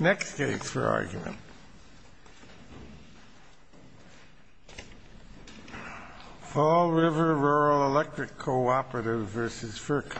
Next case for argument, Fall River Rural Electric Co-operative v. FERC.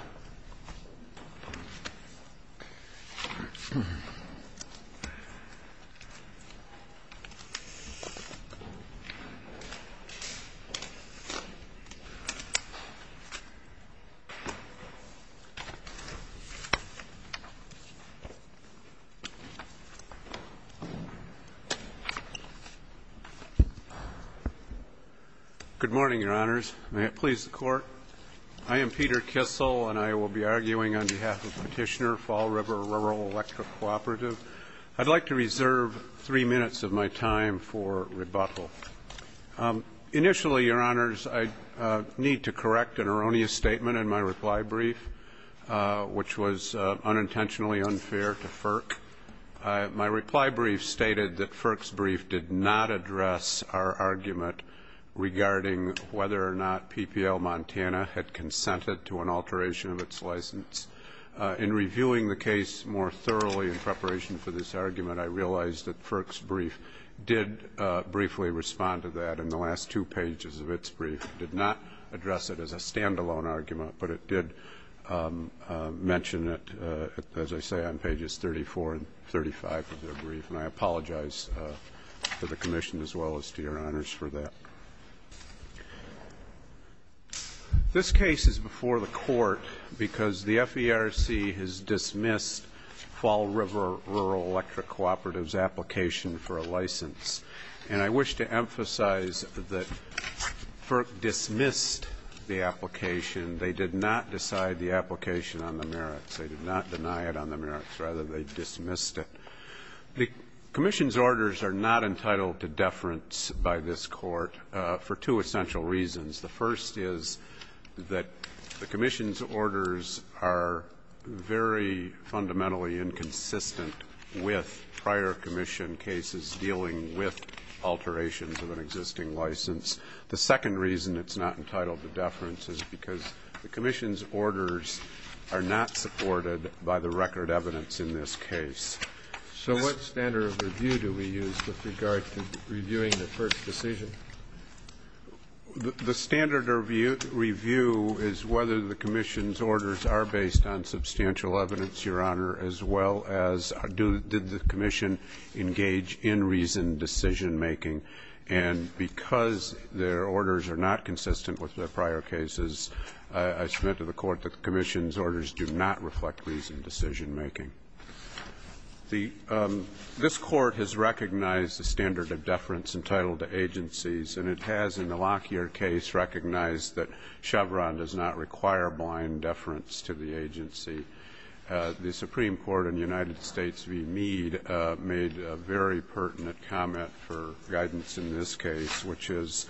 Petitioner, Fall River Rural Electric Co-operative, I'd like to reserve three minutes of my time for rebuttal. Initially, Your Honors, I need to correct an erroneous statement in my reply brief, which was unintentionally unfair to FERC. My reply brief stated that FERC's brief did not address our argument regarding whether or not PPL Montana had consented to an alteration of its license. In reviewing the case more thoroughly in preparation for this argument, I realized that FERC's brief did briefly respond to that, and the last two pages of its brief did not address it as a stand-alone argument, but it did mention it, as I say, on pages 34 and 35 of their brief. And I apologize to the Commission as well as to Your Honors for that. This case is before the Court because the FERC has dismissed Fall River Rural Electric Co-operative's application for a license. And I wish to emphasize that FERC dismissed the application. They did not decide the application on the merits. They did not deny it on the merits. Rather, they dismissed it. The Commission's orders are not entitled to deference by this Court for two essential reasons. The first is that the Commission's orders are very fundamentally inconsistent with prior Commission cases dealing with alterations of an existing license. The second reason it's not entitled to deference is because the Commission's orders are not supported by the record evidence in this case. So what standard of review do we use with regard to reviewing the FERC decision? The standard review is whether the Commission's orders are based on substantial evidence, Your Honor, as well as did the Commission engage in reasoned decision-making. And because their orders are not consistent with their prior cases, I submit to the Court that the Commission's orders do not reflect reasoned decision-making. This Court has recognized the standard of deference entitled to agencies, and it has in the Lockyer case recognized that Chevron does not require blind deference to the agency. The Supreme Court in the United States v. Meade made a very pertinent comment for guidance in this case, which is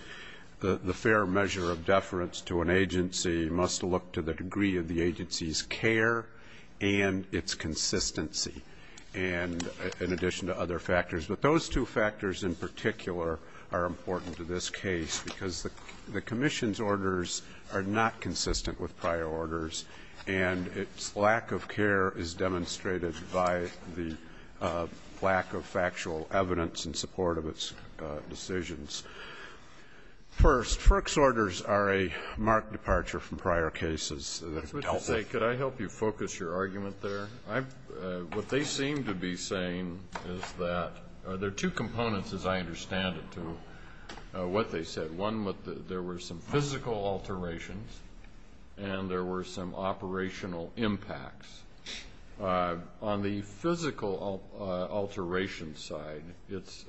the fair measure of deference to an agency must look to the degree of the agency's care and its consistency, and in addition to other factors. But those two factors in particular are important to this case, because the Commission's orders are not consistent with prior orders, and its lack of care is demonstrated by the lack of factual evidence in support of its decisions. First, FERC's orders are a marked departure from prior cases. That's what you say. Could I help you focus your argument there? What they seem to be saying is that there are two components, as I understand it, to what they said. One, there were some physical alterations, and there were some operational impacts. On the physical alteration side, it's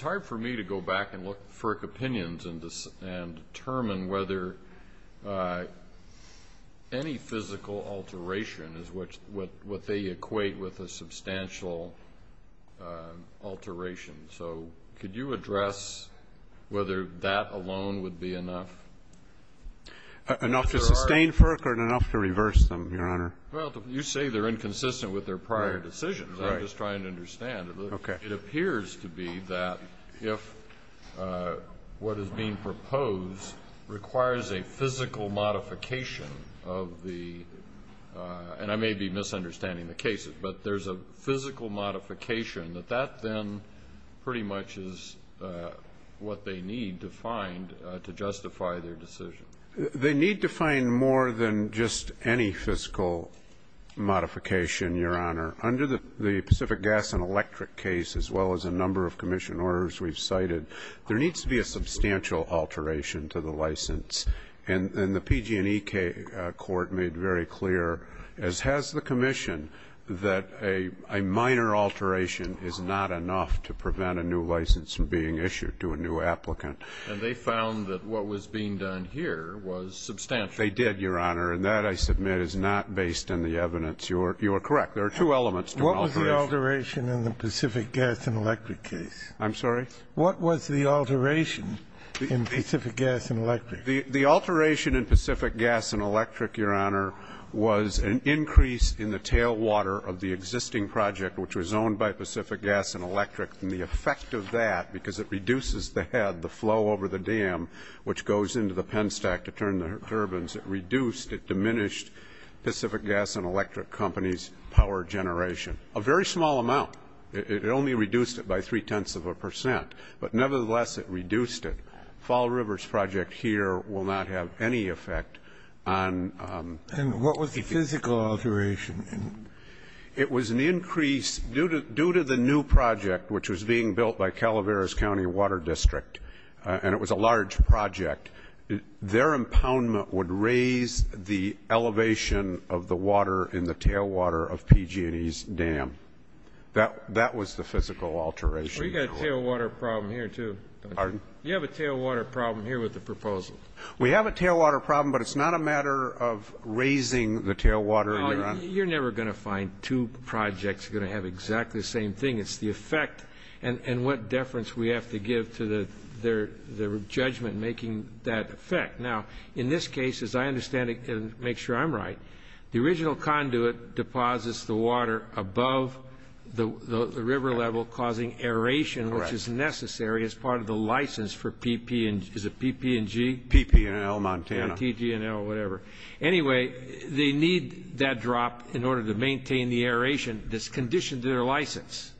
hard for me to go back and look at FERC opinions and determine whether any physical alteration is what they equate with a substantial alteration. So could you address whether that alone would be enough? Enough to sustain FERC or enough to reverse them, Your Honor? Well, you say they're inconsistent with their prior decisions. Right. I'm just trying to understand. Okay. It appears to be that if what is being proposed requires a physical modification of the — and I may be misunderstanding the cases, but there's a physical modification that that then pretty much is what they need to find to justify their decision. They need to find more than just any physical modification, Your Honor. Under the Pacific Gas and Electric case, as well as a number of commission orders we've cited, there needs to be a substantial alteration to the license. And the PG&E court made very clear, as has the commission, that a minor alteration is not enough to prevent a new license from being issued to a new applicant. And they found that what was being done here was substantial. They did, Your Honor. And that, I submit, is not based on the evidence. You are correct. There are two elements to an alteration. What was the alteration in the Pacific Gas and Electric case? I'm sorry? What was the alteration in Pacific Gas and Electric? The alteration in Pacific Gas and Electric, Your Honor, was an increase in the tailwater of the existing project, which was owned by Pacific Gas and Electric, and the effect of that, because it reduces the head, the flow over the dam, which goes into the pen stack to turn the turbines, it reduced, it diminished Pacific Gas and Electric Company's power generation. A very small amount. It only reduced it by three-tenths of a percent. But nevertheless, it reduced it. Fall River's project here will not have any effect. And what was the physical alteration? It was an increase, due to the new project, which was being built by Calaveras County Water District, and it was a large project, their impoundment would raise the elevation of the water in the tailwater of PG&E's dam. That was the physical alteration. We've got a tailwater problem here, too. Pardon? You have a tailwater problem here with the proposal. We have a tailwater problem, but it's not a matter of raising the tailwater, Your Honor. You're never going to find two projects going to have exactly the same thing. It's the effect and what deference we have to give to the judgment making that effect. Now, in this case, as I understand it, and make sure I'm right, the original conduit deposits the water above the river level, causing aeration, which is necessary as part of the license for PP&G. Is it PP&G? PP&L, Montana. Yeah, TG&L, whatever. Anyway, they need that drop in order to maintain the aeration that's conditioned to their license.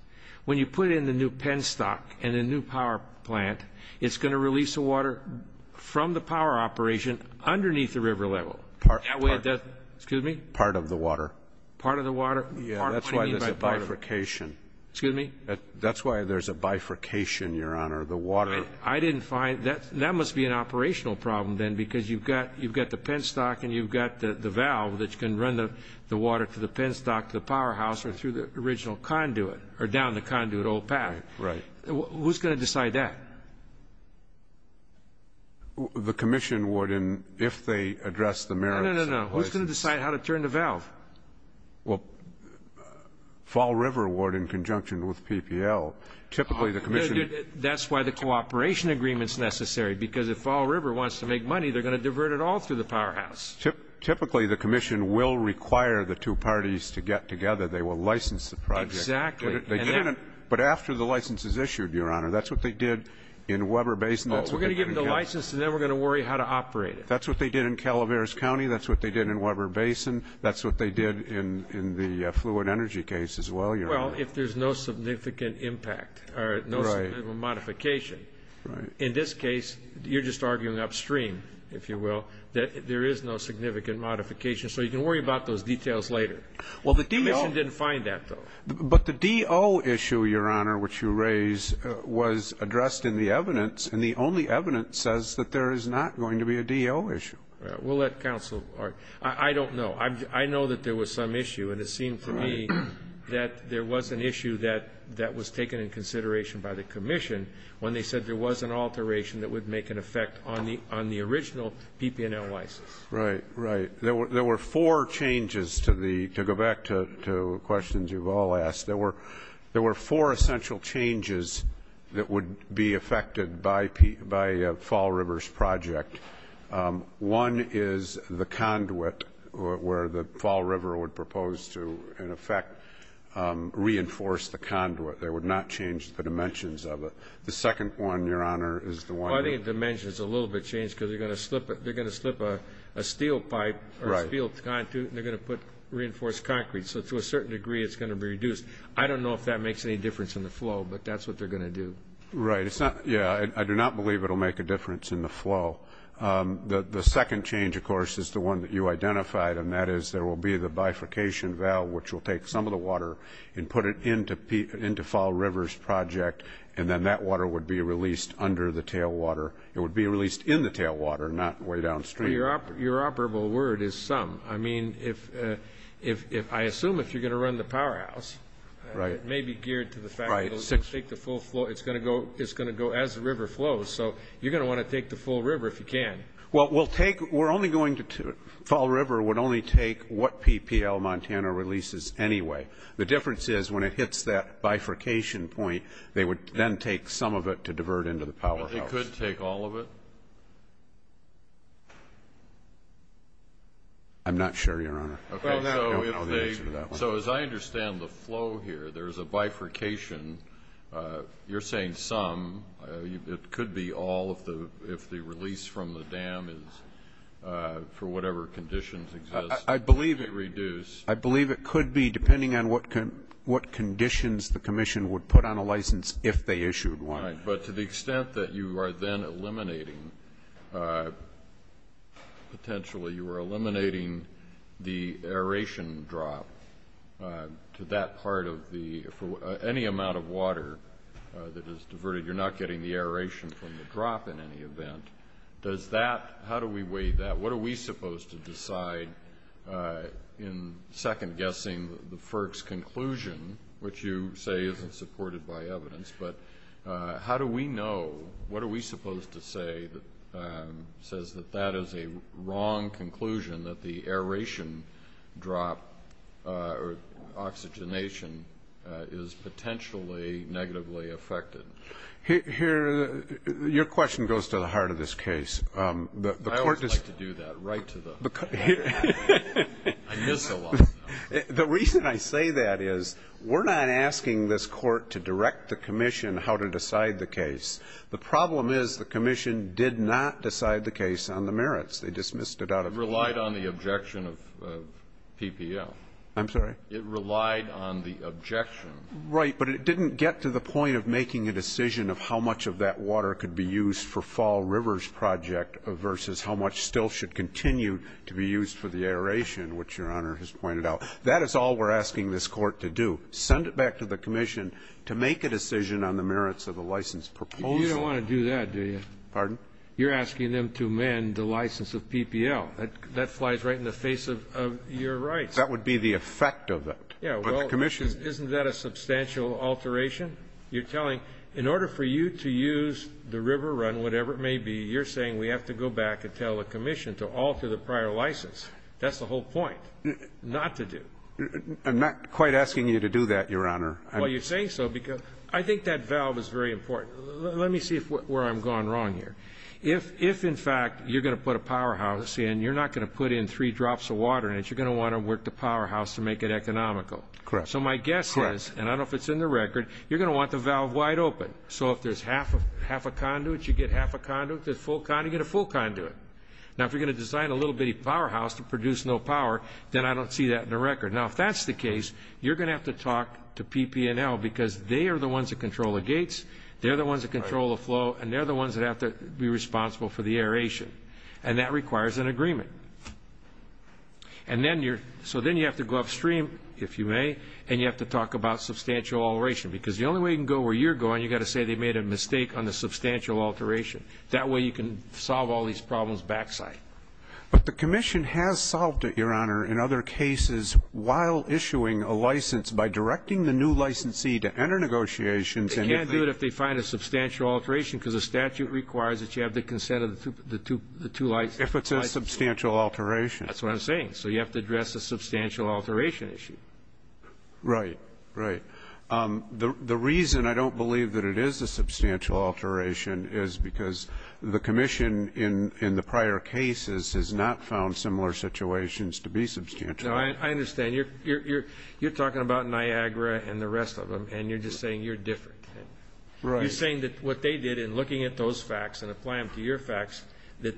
When you put in the new penstock and the new power plant, it's going to release the water from the power operation underneath the river level. That way it doesn't – excuse me? Part of the water. Part of the water? Yeah, that's why there's a bifurcation. Excuse me? That's why there's a bifurcation, Your Honor. The water. I didn't find – that must be an operational problem then because you've got the penstock and you've got the valve that can run the water to the penstock to the powerhouse or through the original conduit or down the conduit old path. Right. Who's going to decide that? The commission would if they address the merits. No, no, no. Who's going to decide how to turn the valve? Well, Fall River Ward in conjunction with PPL, typically the commission – That's why the cooperation agreement is necessary because if Fall River wants to make money they're going to divert it all through the powerhouse. Typically the commission will require the two parties to get together. They will license the project. Exactly. But after the license is issued, Your Honor, that's what they did in Weber Basin. We're going to give them the license and then we're going to worry how to operate it. That's what they did in Calaveras County. That's what they did in Weber Basin. That's what they did in the fluid energy case as well, Your Honor. Well, if there's no significant impact or no significant modification. Right. In this case, you're just arguing upstream, if you will, that there is no significant modification. So you can worry about those details later. Well, the DO – The commission didn't find that, though. But the DO issue, Your Honor, which you raised, was addressed in the evidence, and the only evidence says that there is not going to be a DO issue. We'll let counsel argue. I don't know. I know that there was some issue, and it seemed to me that there was an issue that was taken in consideration by the commission when they said there was an alteration that would make an effect on the original PPNL license. Right, right. There were four changes to the – to go back to questions you've all asked. There were four essential changes that would be affected by Fall Rivers Project. One is the conduit where the Fall River would propose to, in effect, reinforce the conduit. They would not change the dimensions of it. The second one, Your Honor, is the one – Well, I think the dimension is a little bit changed because they're going to slip a steel pipe or a steel conduit, and they're going to put reinforced concrete. So to a certain degree, it's going to be reduced. I don't know if that makes any difference in the flow, but that's what they're going to do. Right. It's not – yeah, I do not believe it will make a difference in the flow. The second change, of course, is the one that you identified, and that is there will be the bifurcation valve, which will take some of the water and put it into Fall Rivers Project, and then that water would be released under the tailwater. It would be released in the tailwater, not way downstream. Your operable word is some. I mean, if – I assume if you're going to run the powerhouse, it may be geared to the fact that it will take the full flow. It's going to go as the river flows. So you're going to want to take the full river if you can. Well, we'll take – we're only going to – Fall River would only take what PPL Montana releases anyway. The difference is when it hits that bifurcation point, they would then take some of it to divert into the powerhouse. But they could take all of it? I'm not sure, Your Honor. So as I understand the flow here, there's a bifurcation. You're saying some. It could be all if the release from the dam is for whatever conditions exist. I believe it could be depending on what conditions the commission would put on a license if they issued one. All right. But to the extent that you are then eliminating – that is diverted, you're not getting the aeration from the drop in any event. Does that – how do we weigh that? What are we supposed to decide in second-guessing the FERC's conclusion, which you say isn't supported by evidence? But how do we know – what are we supposed to say that says that that is a wrong conclusion, that the aeration drop or oxygenation is potentially negatively affected? Here, your question goes to the heart of this case. I always like to do that, right to the heart of it. I miss it a lot. The reason I say that is we're not asking this Court to direct the commission how to decide the case. The problem is the commission did not decide the case on the merits. They dismissed it out of court. It relied on the objection of PPL. I'm sorry? It relied on the objection. Right. But it didn't get to the point of making a decision of how much of that water could be used for Fall Rivers Project versus how much still should continue to be used for the aeration, which Your Honor has pointed out. That is all we're asking this Court to do, send it back to the commission to make a decision on the merits of the license proposal. You don't want to do that, do you? Pardon? You're asking them to amend the license of PPL. That flies right in the face of your rights. That would be the effect of it. Yeah. Isn't that a substantial alteration? You're telling in order for you to use the river run, whatever it may be, you're saying we have to go back and tell the commission to alter the prior license. That's the whole point, not to do. I'm not quite asking you to do that, Your Honor. Well, you're saying so because I think that valve is very important. Let me see where I'm going wrong here. If, in fact, you're going to put a powerhouse in, you're not going to put in three drops of water in it. You're going to want to work the powerhouse to make it economical. Correct. So my guess is, and I don't know if it's in the record, you're going to want the valve wide open. So if there's half a conduit, you get half a conduit. If there's full conduit, you get a full conduit. Now, if you're going to design a little bitty powerhouse to produce no power, then I don't see that in the record. Now, if that's the case, you're going to have to talk to PP&L because they are the ones that control the gates, they're the ones that control the flow, and they're the ones that have to be responsible for the aeration. And that requires an agreement. So then you have to go upstream, if you may, and you have to talk about substantial alteration because the only way you can go where you're going, you've got to say they made a mistake on the substantial alteration. That way you can solve all these problems backside. But the commission has solved it, Your Honor, in other cases while issuing a license by directing the new licensee to enter negotiations. They can't do it if they find a substantial alteration because the statute requires that you have the consent of the two licenses. If it's a substantial alteration. That's what I'm saying. So you have to address the substantial alteration issue. Right. Right. The reason I don't believe that it is a substantial alteration is because the commission in the prior cases has not found similar situations to be substantial. I understand. You're talking about Niagara and the rest of them, and you're just saying you're different. Right. You're saying that what they did in looking at those facts and applying them to your facts, that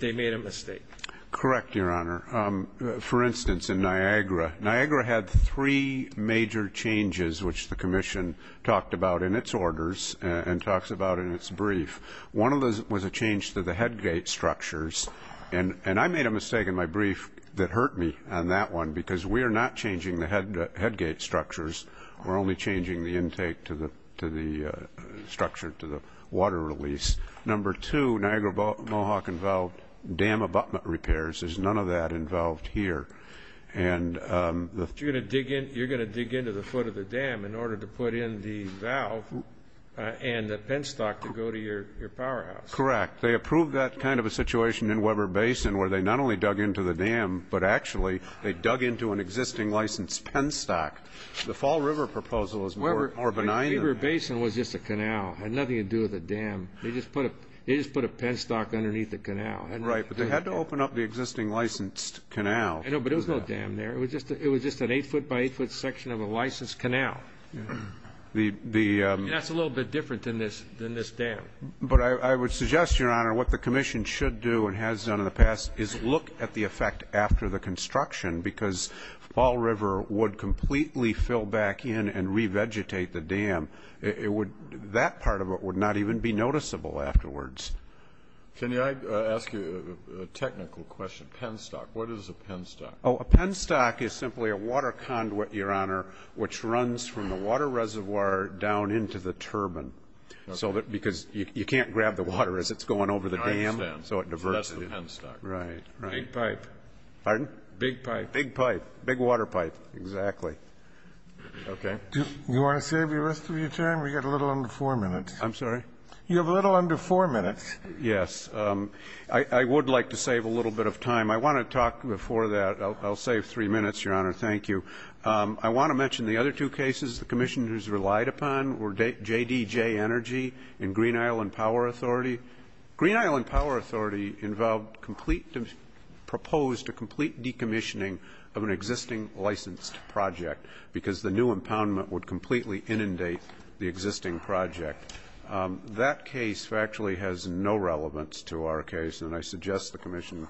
they made a mistake. Correct, Your Honor. For instance, in Niagara, Niagara had three major changes, which the commission talked about in its orders and talks about in its brief. One of those was a change to the headgate structures. And I made a mistake in my brief that hurt me on that one because we are not changing the headgate structures. We're only changing the intake to the structure to the water release. Number two, Niagara Mohawk involved dam abutment repairs. There's none of that involved here. You're going to dig into the foot of the dam in order to put in the valve and the penstock to go to your powerhouse. Correct. They approved that kind of a situation in Weber Basin where they not only dug into the dam, but actually they dug into an existing licensed penstock. The Fall River proposal is more benign than that. Weber Basin was just a canal. It had nothing to do with the dam. They just put a penstock underneath the canal. Right, but they had to open up the existing licensed canal. I know, but there was no dam there. It was just an eight-foot-by-eight-foot section of a licensed canal. That's a little bit different than this dam. But I would suggest, Your Honor, what the commission should do and has done in the past is look at the effect after the construction because Fall River would completely fill back in and revegetate the dam. That part of it would not even be noticeable afterwards. Can I ask you a technical question? Penstock, what is a penstock? A penstock is simply a water conduit, Your Honor, which runs from the water reservoir down into the turbine because you can't grab the water as it's going over the dam. I understand. So that's the penstock. Right. Big pipe. Pardon? Big pipe. Big pipe, big water pipe, exactly. Okay. Do you want to save the rest of your time? We've got a little under four minutes. I'm sorry? You have a little under four minutes. Yes. I would like to save a little bit of time. I want to talk before that. I'll save three minutes, Your Honor. Thank you. I want to mention the other two cases the commission has relied upon were JDJ Energy and Green Island Power Authority. Green Island Power Authority proposed a complete decommissioning of an existing licensed project because the new impoundment would completely inundate the existing project. That case actually has no relevance to our case, and I suggest the commission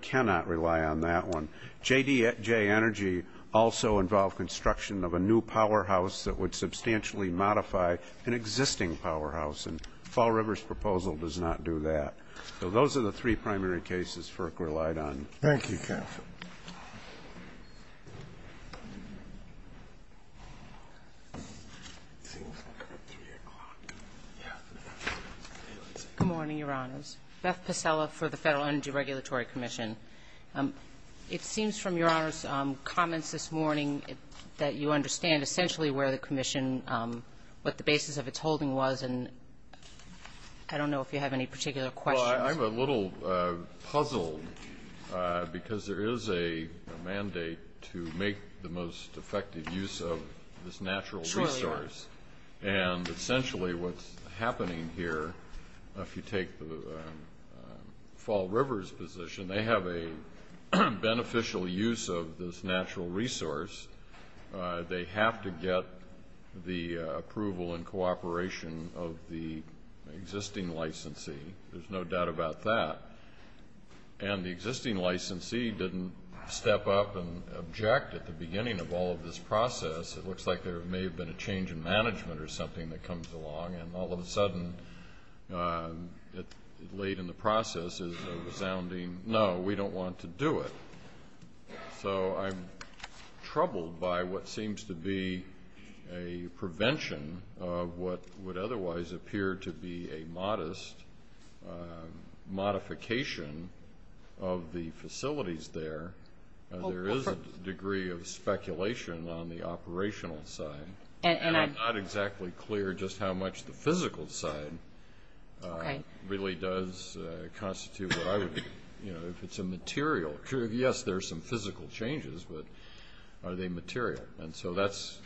cannot rely on that one. JDJ Energy also involved construction of a new powerhouse that would substantially modify an existing powerhouse, and Fall River's proposal does not do that. So those are the three primary cases FERC relied on. Thank you, counsel. Good morning, Your Honors. Beth Possella for the Federal Energy Regulatory Commission. It seems from Your Honor's comments this morning that you understand essentially where the commission, what the basis of its holding was, and I don't know if you have any particular questions. I'm a little puzzled because there is a mandate to make the most effective use of this natural resource, and essentially what's happening here, if you take the Fall River's position, they have a beneficial use of this natural resource. They have to get the approval and cooperation of the existing licensee. There's no doubt about that. And the existing licensee didn't step up and object at the beginning of all of this process. It looks like there may have been a change in management or something that comes along, and all of a sudden late in the process is a resounding no, we don't want to do it. So I'm troubled by what seems to be a prevention of what would otherwise appear to be a modest modification of the facilities there. There is a degree of speculation on the operational side. And I'm not exactly clear just how much the physical side really does constitute what I would, you know, if it's a material. Yes, there's some physical changes, but are they material? And so that's,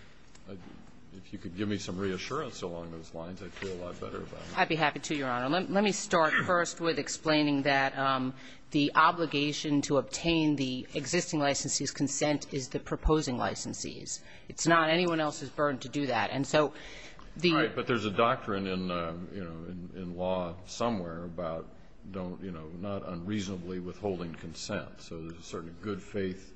if you could give me some reassurance along those lines, I'd feel a lot better about it. I'd be happy to, Your Honor. Let me start first with explaining that the obligation to obtain the existing licensee's consent is the proposing licensee's. It's not anyone else's burden to do that. All right. But there's a doctrine in, you know, in law somewhere about, you know, not unreasonably withholding consent. So there's a certain good faith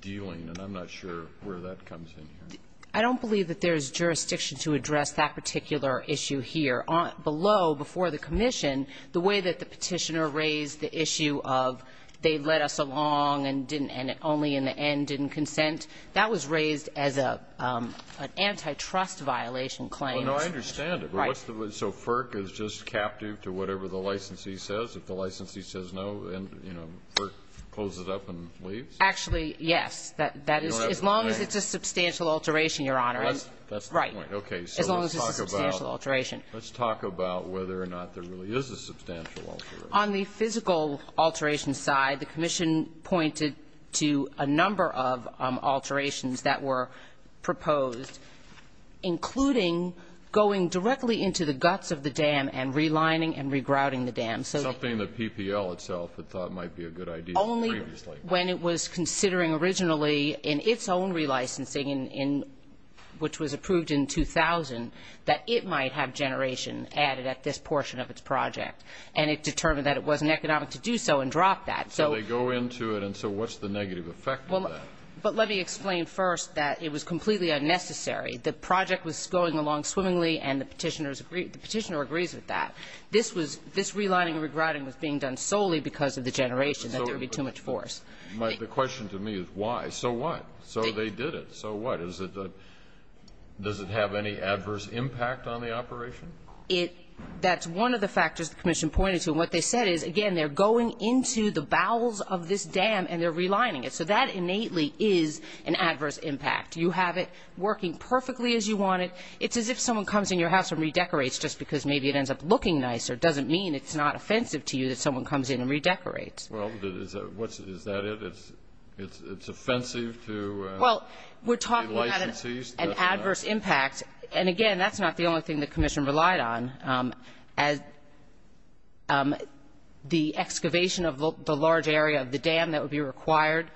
dealing, and I'm not sure where that comes in here. I don't believe that there's jurisdiction to address that particular issue here. Below, before the commission, the way that the Petitioner raised the issue of they led us along and didn't consent, that was raised as an antitrust violation claim. Well, no, I understand it. Right. So FERC is just captive to whatever the licensee says? If the licensee says no, then, you know, FERC closes up and leaves? Actually, yes. As long as it's a substantial alteration, Your Honor. That's the point. Right. Okay. As long as it's a substantial alteration. Let's talk about whether or not there really is a substantial alteration. On the physical alteration side, the commission pointed to a number of alterations that were proposed, including going directly into the guts of the dam and relining and regrouting the dam. Something that PPL itself had thought might be a good idea previously. Only when it was considering originally in its own relicensing, which was approved in 2000, that it might have generation added at this portion of its project. And it determined that it wasn't economic to do so and dropped that. So they go into it, and so what's the negative effect of that? But let me explain first that it was completely unnecessary. The project was going along swimmingly, and the Petitioner agrees with that. This was this relining and regrouting was being done solely because of the generation, that there would be too much force. The question to me is why? So what? So they did it. So what? Does it have any adverse impact on the operation? That's one of the factors the Commission pointed to. And what they said is, again, they're going into the bowels of this dam, and they're relining it. So that innately is an adverse impact. You have it working perfectly as you want it. It's as if someone comes in your house and redecorates just because maybe it ends up looking nicer. It doesn't mean it's not offensive to you that someone comes in and redecorates. Well, is that it? It's offensive to relicensees? Well, we're talking about an adverse impact. And, again, that's not the only thing the Commission relied on. The excavation of the large area of the dam that would be required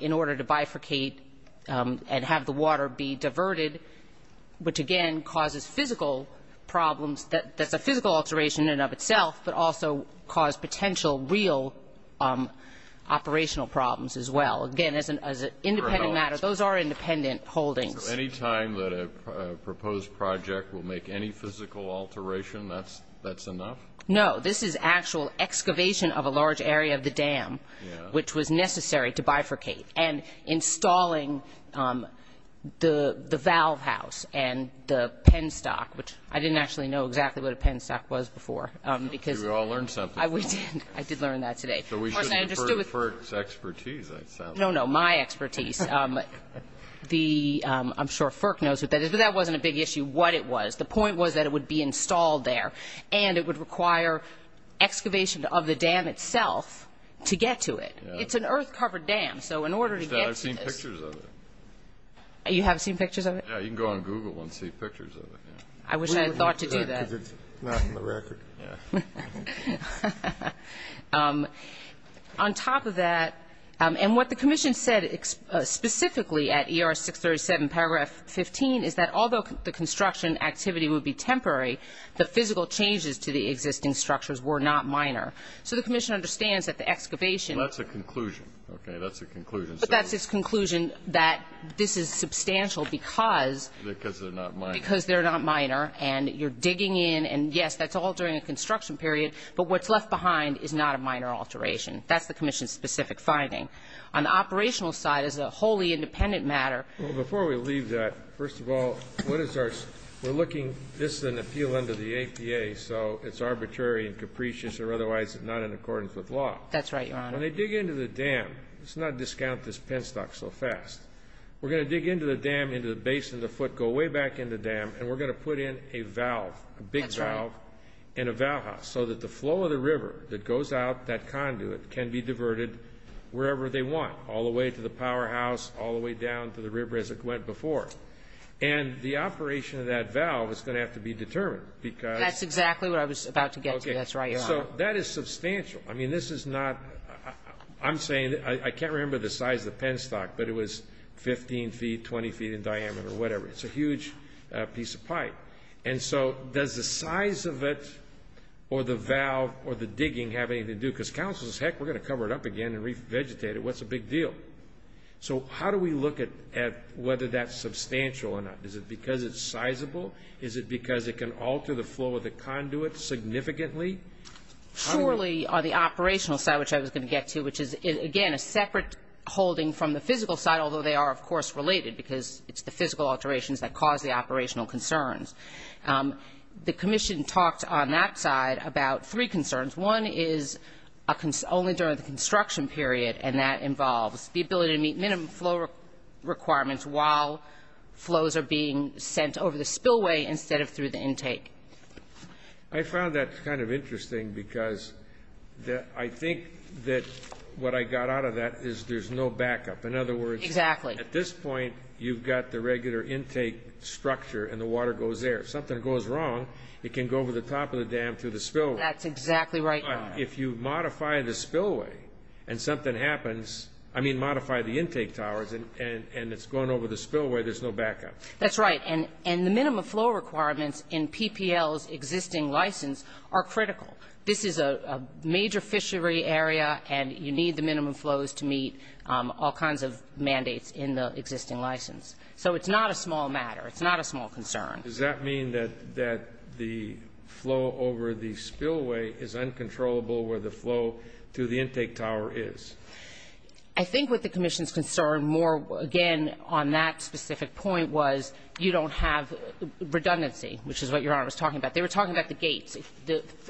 in order to bifurcate and have the water be diverted, which, again, causes physical problems. That's a physical alteration in and of itself, but also cause potential real operational problems as well. Again, as an independent matter, those are independent holdings. So any time that a proposed project will make any physical alteration, that's enough? No. This is actual excavation of a large area of the dam, which was necessary to bifurcate, and installing the valve house and the penstock, which I didn't actually know exactly what a penstock was before. We all learned something. I did learn that today. So we shouldn't defer to FERC's expertise. No, no, my expertise. I'm sure FERC knows what that is, but that wasn't a big issue, what it was. The point was that it would be installed there, and it would require excavation of the dam itself to get to it. It's an earth-covered dam, so in order to get to it. I wish I had seen pictures of it. You haven't seen pictures of it? Yeah, you can go on Google and see pictures of it. I wish I had thought to do that. Because it's not in the record. On top of that, and what the commission said specifically at ER 637, paragraph 15, is that although the construction activity would be temporary, the physical changes to the existing structures were not minor. So the commission understands that the excavation. That's a conclusion. Okay. That's a conclusion. But that's its conclusion, that this is substantial because. Because they're not minor. Because they're not minor, and you're digging in, and, yes, that's all during a construction period. But what's left behind is not a minor alteration. That's the commission's specific finding. On the operational side, as a wholly independent matter. Well, before we leave that, first of all, what is our ‑‑ we're looking, this is an appeal under the APA, so it's arbitrary and capricious or otherwise it's not in accordance with law. That's right, Your Honor. When they dig into the dam, let's not discount this penstock so fast. We're going to dig into the dam, into the base of the foot, go way back in the dam, and we're going to put in a valve, a big valve. That's right. And a valve house so that the flow of the river that goes out that conduit can be diverted wherever they want, all the way to the powerhouse, all the way down to the river as it went before. And the operation of that valve is going to have to be determined because ‑‑ That's exactly what I was about to get to. That's right, Your Honor. So that is substantial. I mean, this is not ‑‑ I'm saying, I can't remember the size of the penstock, but it was 15 feet, 20 feet in diameter or whatever. It's a huge piece of pipe. And so does the size of it or the valve or the digging have anything to do? Because counsel says, heck, we're going to cover it up again and re‑vegetate it. What's the big deal? So how do we look at whether that's substantial or not? Is it because it's sizable? Is it because it can alter the flow of the conduit significantly? Surely the operational side, which I was going to get to, which is, again, a separate holding from the physical side, although they are, of course, related because it's the physical alterations that cause the operational concerns. The commission talked on that side about three concerns. One is only during the construction period, and that involves the ability to meet minimum flow requirements while flows are being sent over the spillway instead of through the intake. I found that kind of interesting because I think that what I got out of that is there's no backup. In other words ‑‑ At some point you've got the regular intake structure and the water goes there. If something goes wrong, it can go over the top of the dam to the spillway. That's exactly right. If you modify the spillway and something happens, I mean modify the intake towers and it's going over the spillway, there's no backup. That's right. And the minimum flow requirements in PPL's existing license are critical. This is a major fishery area, and you need the minimum flows to meet all kinds of mandates in the existing license. So it's not a small matter. It's not a small concern. Does that mean that the flow over the spillway is uncontrollable where the flow through the intake tower is? I think what the commission's concern more, again, on that specific point was you don't have redundancy, which is what Your Honor was talking about. They were talking about the gates.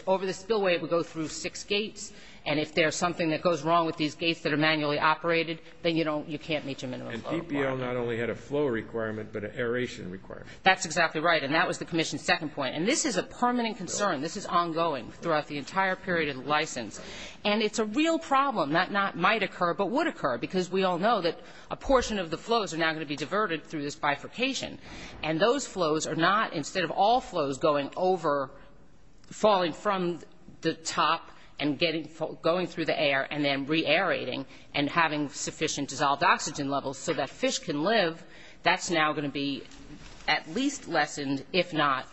Over the spillway it would go through six gates, and if there's something that goes wrong with these gates that are manually operated, then you can't meet your minimum flow requirements. And PPL not only had a flow requirement, but an aeration requirement. That's exactly right. And that was the commission's second point. And this is a permanent concern. This is ongoing throughout the entire period of the license. And it's a real problem that not might occur, but would occur, because we all know that a portion of the flows are now going to be diverted through this bifurcation. And those flows are not, instead of all flows going over, falling from the top and going through the air and then re-aerating and having sufficient dissolved oxygen levels so that fish can live, that's now going to be at least lessened, if not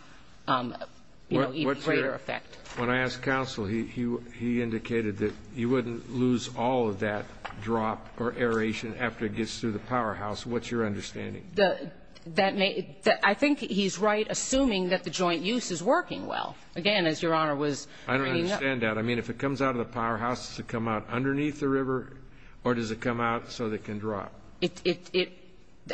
greater effect. When I asked counsel, he indicated that you wouldn't lose all of that drop or aeration after it gets through the powerhouse. What's your understanding? I think he's right, assuming that the joint use is working well. Again, as Your Honor was bringing up. I understand that. I mean, if it comes out of the powerhouse, does it come out underneath the river, or does it come out so that it can drop?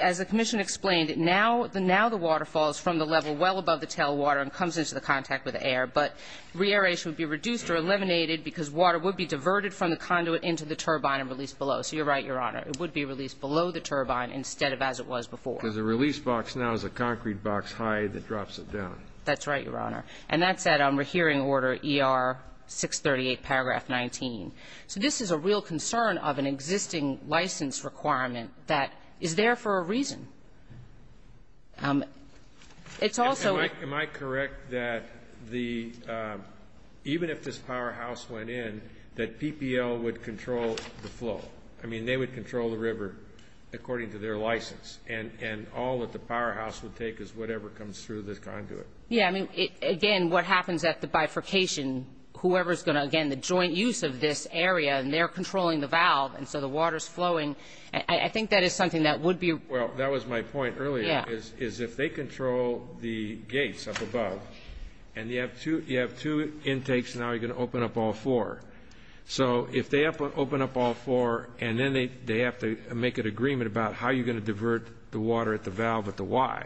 As the commission explained, now the water falls from the level well above the tail water and comes into the contact with the air. But re-aeration would be reduced or eliminated because water would be diverted from the conduit into the turbine and released below. So you're right, Your Honor. It would be released below the turbine instead of as it was before. Because the release box now is a concrete box high that drops it down. That's right, Your Honor. And that's at hearing order ER-638, paragraph 19. So this is a real concern of an existing license requirement that is there for a reason. It's also a ---- Am I correct that the ---- even if this powerhouse went in, that PPL would control the flow? I mean, they would control the river according to their license. And all that the powerhouse would take is whatever comes through this conduit. Yeah, I mean, again, what happens at the bifurcation, whoever is going to, again, the joint use of this area and they're controlling the valve and so the water is flowing, I think that is something that would be ---- Well, that was my point earlier is if they control the gates up above and you have two intakes, now you're going to open up all four. So if they open up all four and then they have to make an agreement about how you're going to divert the water at the valve at the Y.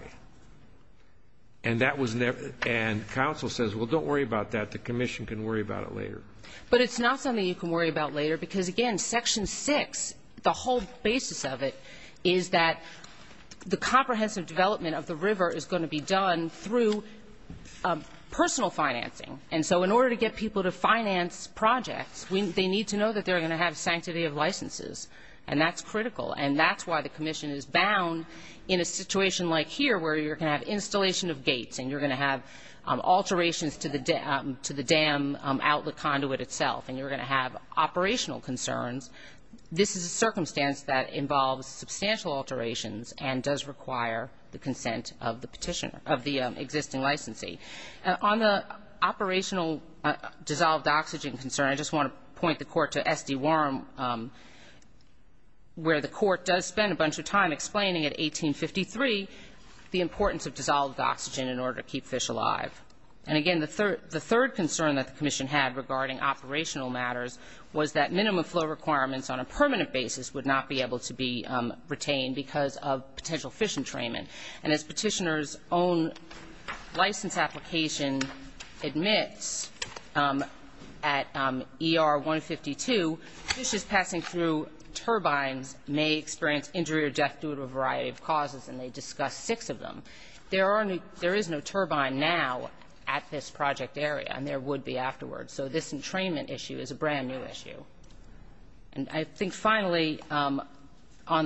And that was never ---- and counsel says, well, don't worry about that, the commission can worry about it later. But it's not something you can worry about later because, again, Section 6, the whole basis of it is that the comprehensive development of the river is going to be done through personal financing. And so in order to get people to finance projects, they need to know that they're going to have sanctity of licenses. And that's critical. And that's why the commission is bound in a situation like here where you're going to have installation of gates and you're going to have alterations to the dam outlet conduit itself and you're going to have operational concerns. This is a circumstance that involves substantial alterations and does require the consent of the petitioner, of the existing licensee. On the operational dissolved oxygen concern, I just want to point the court to SD The court does spend a bunch of time explaining at 1853 the importance of dissolved oxygen in order to keep fish alive. And, again, the third concern that the commission had regarding operational matters was that minimum flow requirements on a permanent basis would not be able to be retained because of potential fish entrainment. And as petitioner's own license application admits at ER 152, fish is passing through turbines may experience injury or death due to a variety of causes, and they discuss six of them. There is no turbine now at this project area, and there would be afterwards. So this entrainment issue is a brand-new issue. And I think, finally, on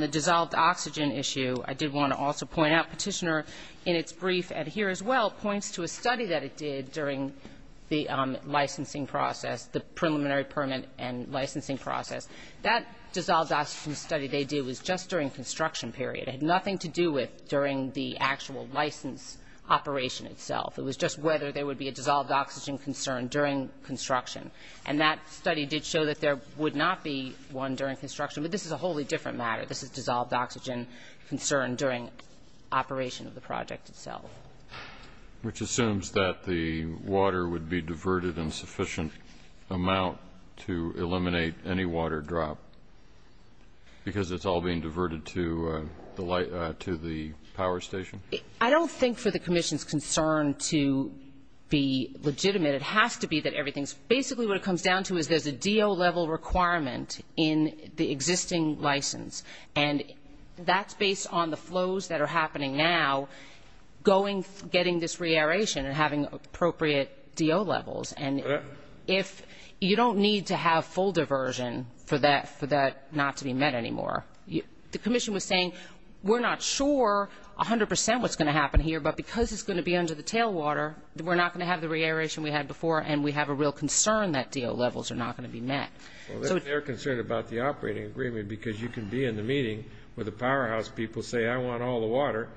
the dissolved oxygen issue, I did want to also point out Petitioner in its brief at here as well points to a study that it did during the licensing process, the preliminary permit and licensing process. That dissolved oxygen study they do is just during construction period. It had nothing to do with during the actual license operation itself. It was just whether there would be a dissolved oxygen concern during construction. And that study did show that there would not be one during construction. But this is a wholly different matter. This is dissolved oxygen concern during operation of the project itself. Which assumes that the water would be diverted in sufficient amount to eliminate any water drop because it's all being diverted to the power station? I don't think for the commission's concern to be legitimate. It has to be that everything's basically what it comes down to is there's a DO level requirement in the existing license, and that's based on the flows that are happening now, getting this reaeration and having appropriate DO levels. And you don't need to have full diversion for that not to be met anymore. The commission was saying we're not sure 100 percent what's going to happen here, but because it's going to be under the tailwater, we're not going to have the reaeration we had before, and we have a real concern that DO levels are not going to be met. They're concerned about the operating agreement because you can be in the meeting with the powerhouse people, say I want all the water,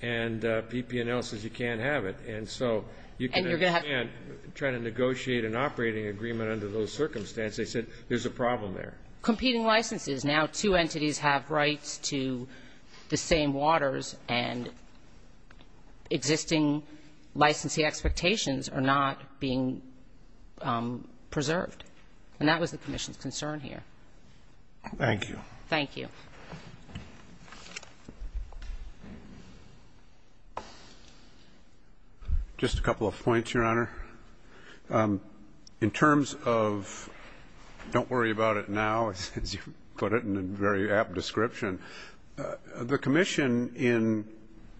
and PP&L says you can't have it. And so you can and can't try to negotiate an operating agreement under those circumstances. They said there's a problem there. Competing licenses. Now two entities have rights to the same waters, and existing licensee expectations are not being preserved. And that was the commission's concern here. Thank you. Thank you. Just a couple of points, Your Honor. In terms of don't worry about it now, as you put it in a very apt description, the commission in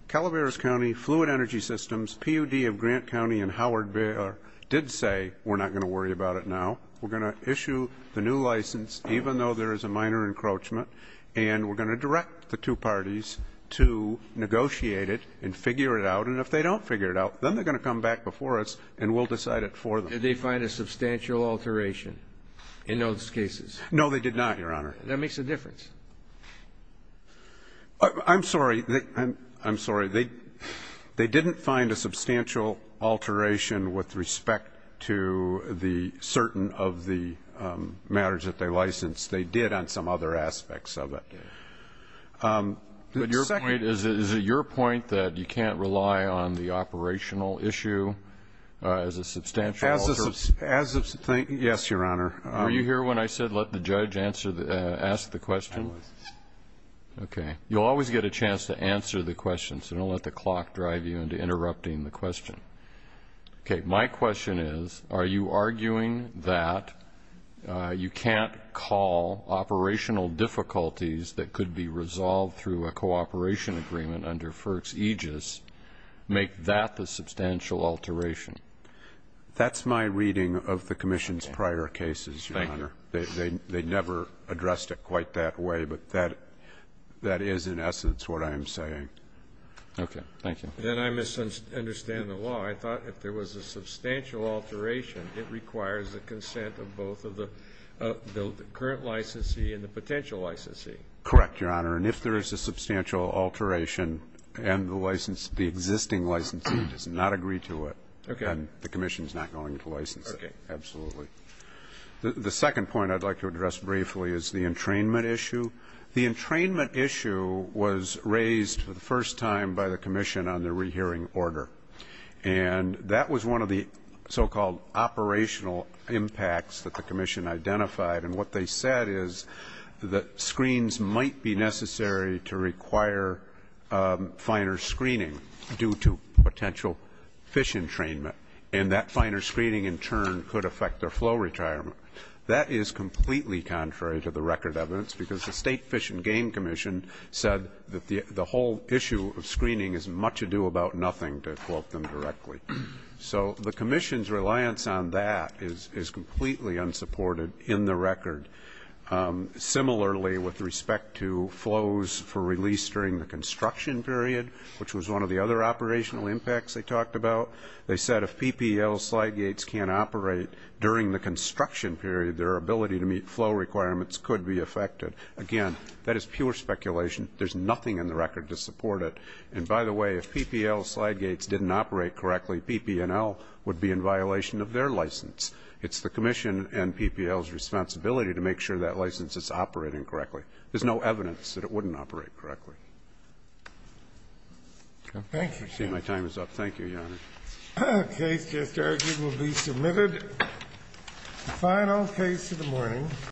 Calaveras County, Fluid Energy Systems, PUD of Grant County, and Howard Baylor did say we're not going to worry about it now. We're going to issue the new license even though there is a minor encroachment, and we're going to direct the two parties to negotiate it and figure it out. And if they don't figure it out, then they're going to come back before us and we'll decide it for them. Did they find a substantial alteration in those cases? No, they did not, Your Honor. That makes a difference. I'm sorry. They didn't find a substantial alteration with respect to the certain of the matters that they licensed. They did on some other aspects of it. Is it your point that you can't rely on the operational issue as a substantial alteration? Yes, Your Honor. Were you here when I said let the judge ask the question? I was. Okay. You'll always get a chance to answer the question, so don't let the clock drive you into interrupting the question. Okay, my question is, are you arguing that you can't call operational difficulties that could be resolved through a cooperation agreement under FERC's aegis, make that the substantial alteration? That's my reading of the Commission's prior cases, Your Honor. Thank you. They never addressed it quite that way, but that is in essence what I am saying. Okay. Thank you. Then I misunderstand the law. I thought if there was a substantial alteration, it requires the consent of both of the current licensee and the potential licensee. Correct, Your Honor. And if there is a substantial alteration and the existing licensee does not agree to it, then the Commission is not going to license it. Okay. Absolutely. The second point I'd like to address briefly is the entrainment issue. The entrainment issue was raised for the first time by the Commission on the rehearing order, and that was one of the so-called operational impacts that the Commission identified, and what they said is that screens might be necessary to require finer screening due to potential fish entrainment, and that finer screening, in turn, could affect their flow retirement. That is completely contrary to the record evidence because the State Fish and Game Commission said that the whole issue of screening is much ado about nothing, to quote them directly. So the Commission's reliance on that is completely unsupported in the record. Similarly, with respect to flows for release during the construction period, which was one of the other operational impacts they talked about, they said if PPL slide gates can't operate during the construction period, their ability to meet flow requirements could be affected. Again, that is pure speculation. There's nothing in the record to support it. And by the way, if PPL slide gates didn't operate correctly, PPNL would be in violation of their license. It's the Commission and PPL's responsibility to make sure that license is operating correctly. There's no evidence that it wouldn't operate correctly. Thank you. I see my time is up. Thank you, Your Honor. The case just argued will be submitted. The final case of the morning.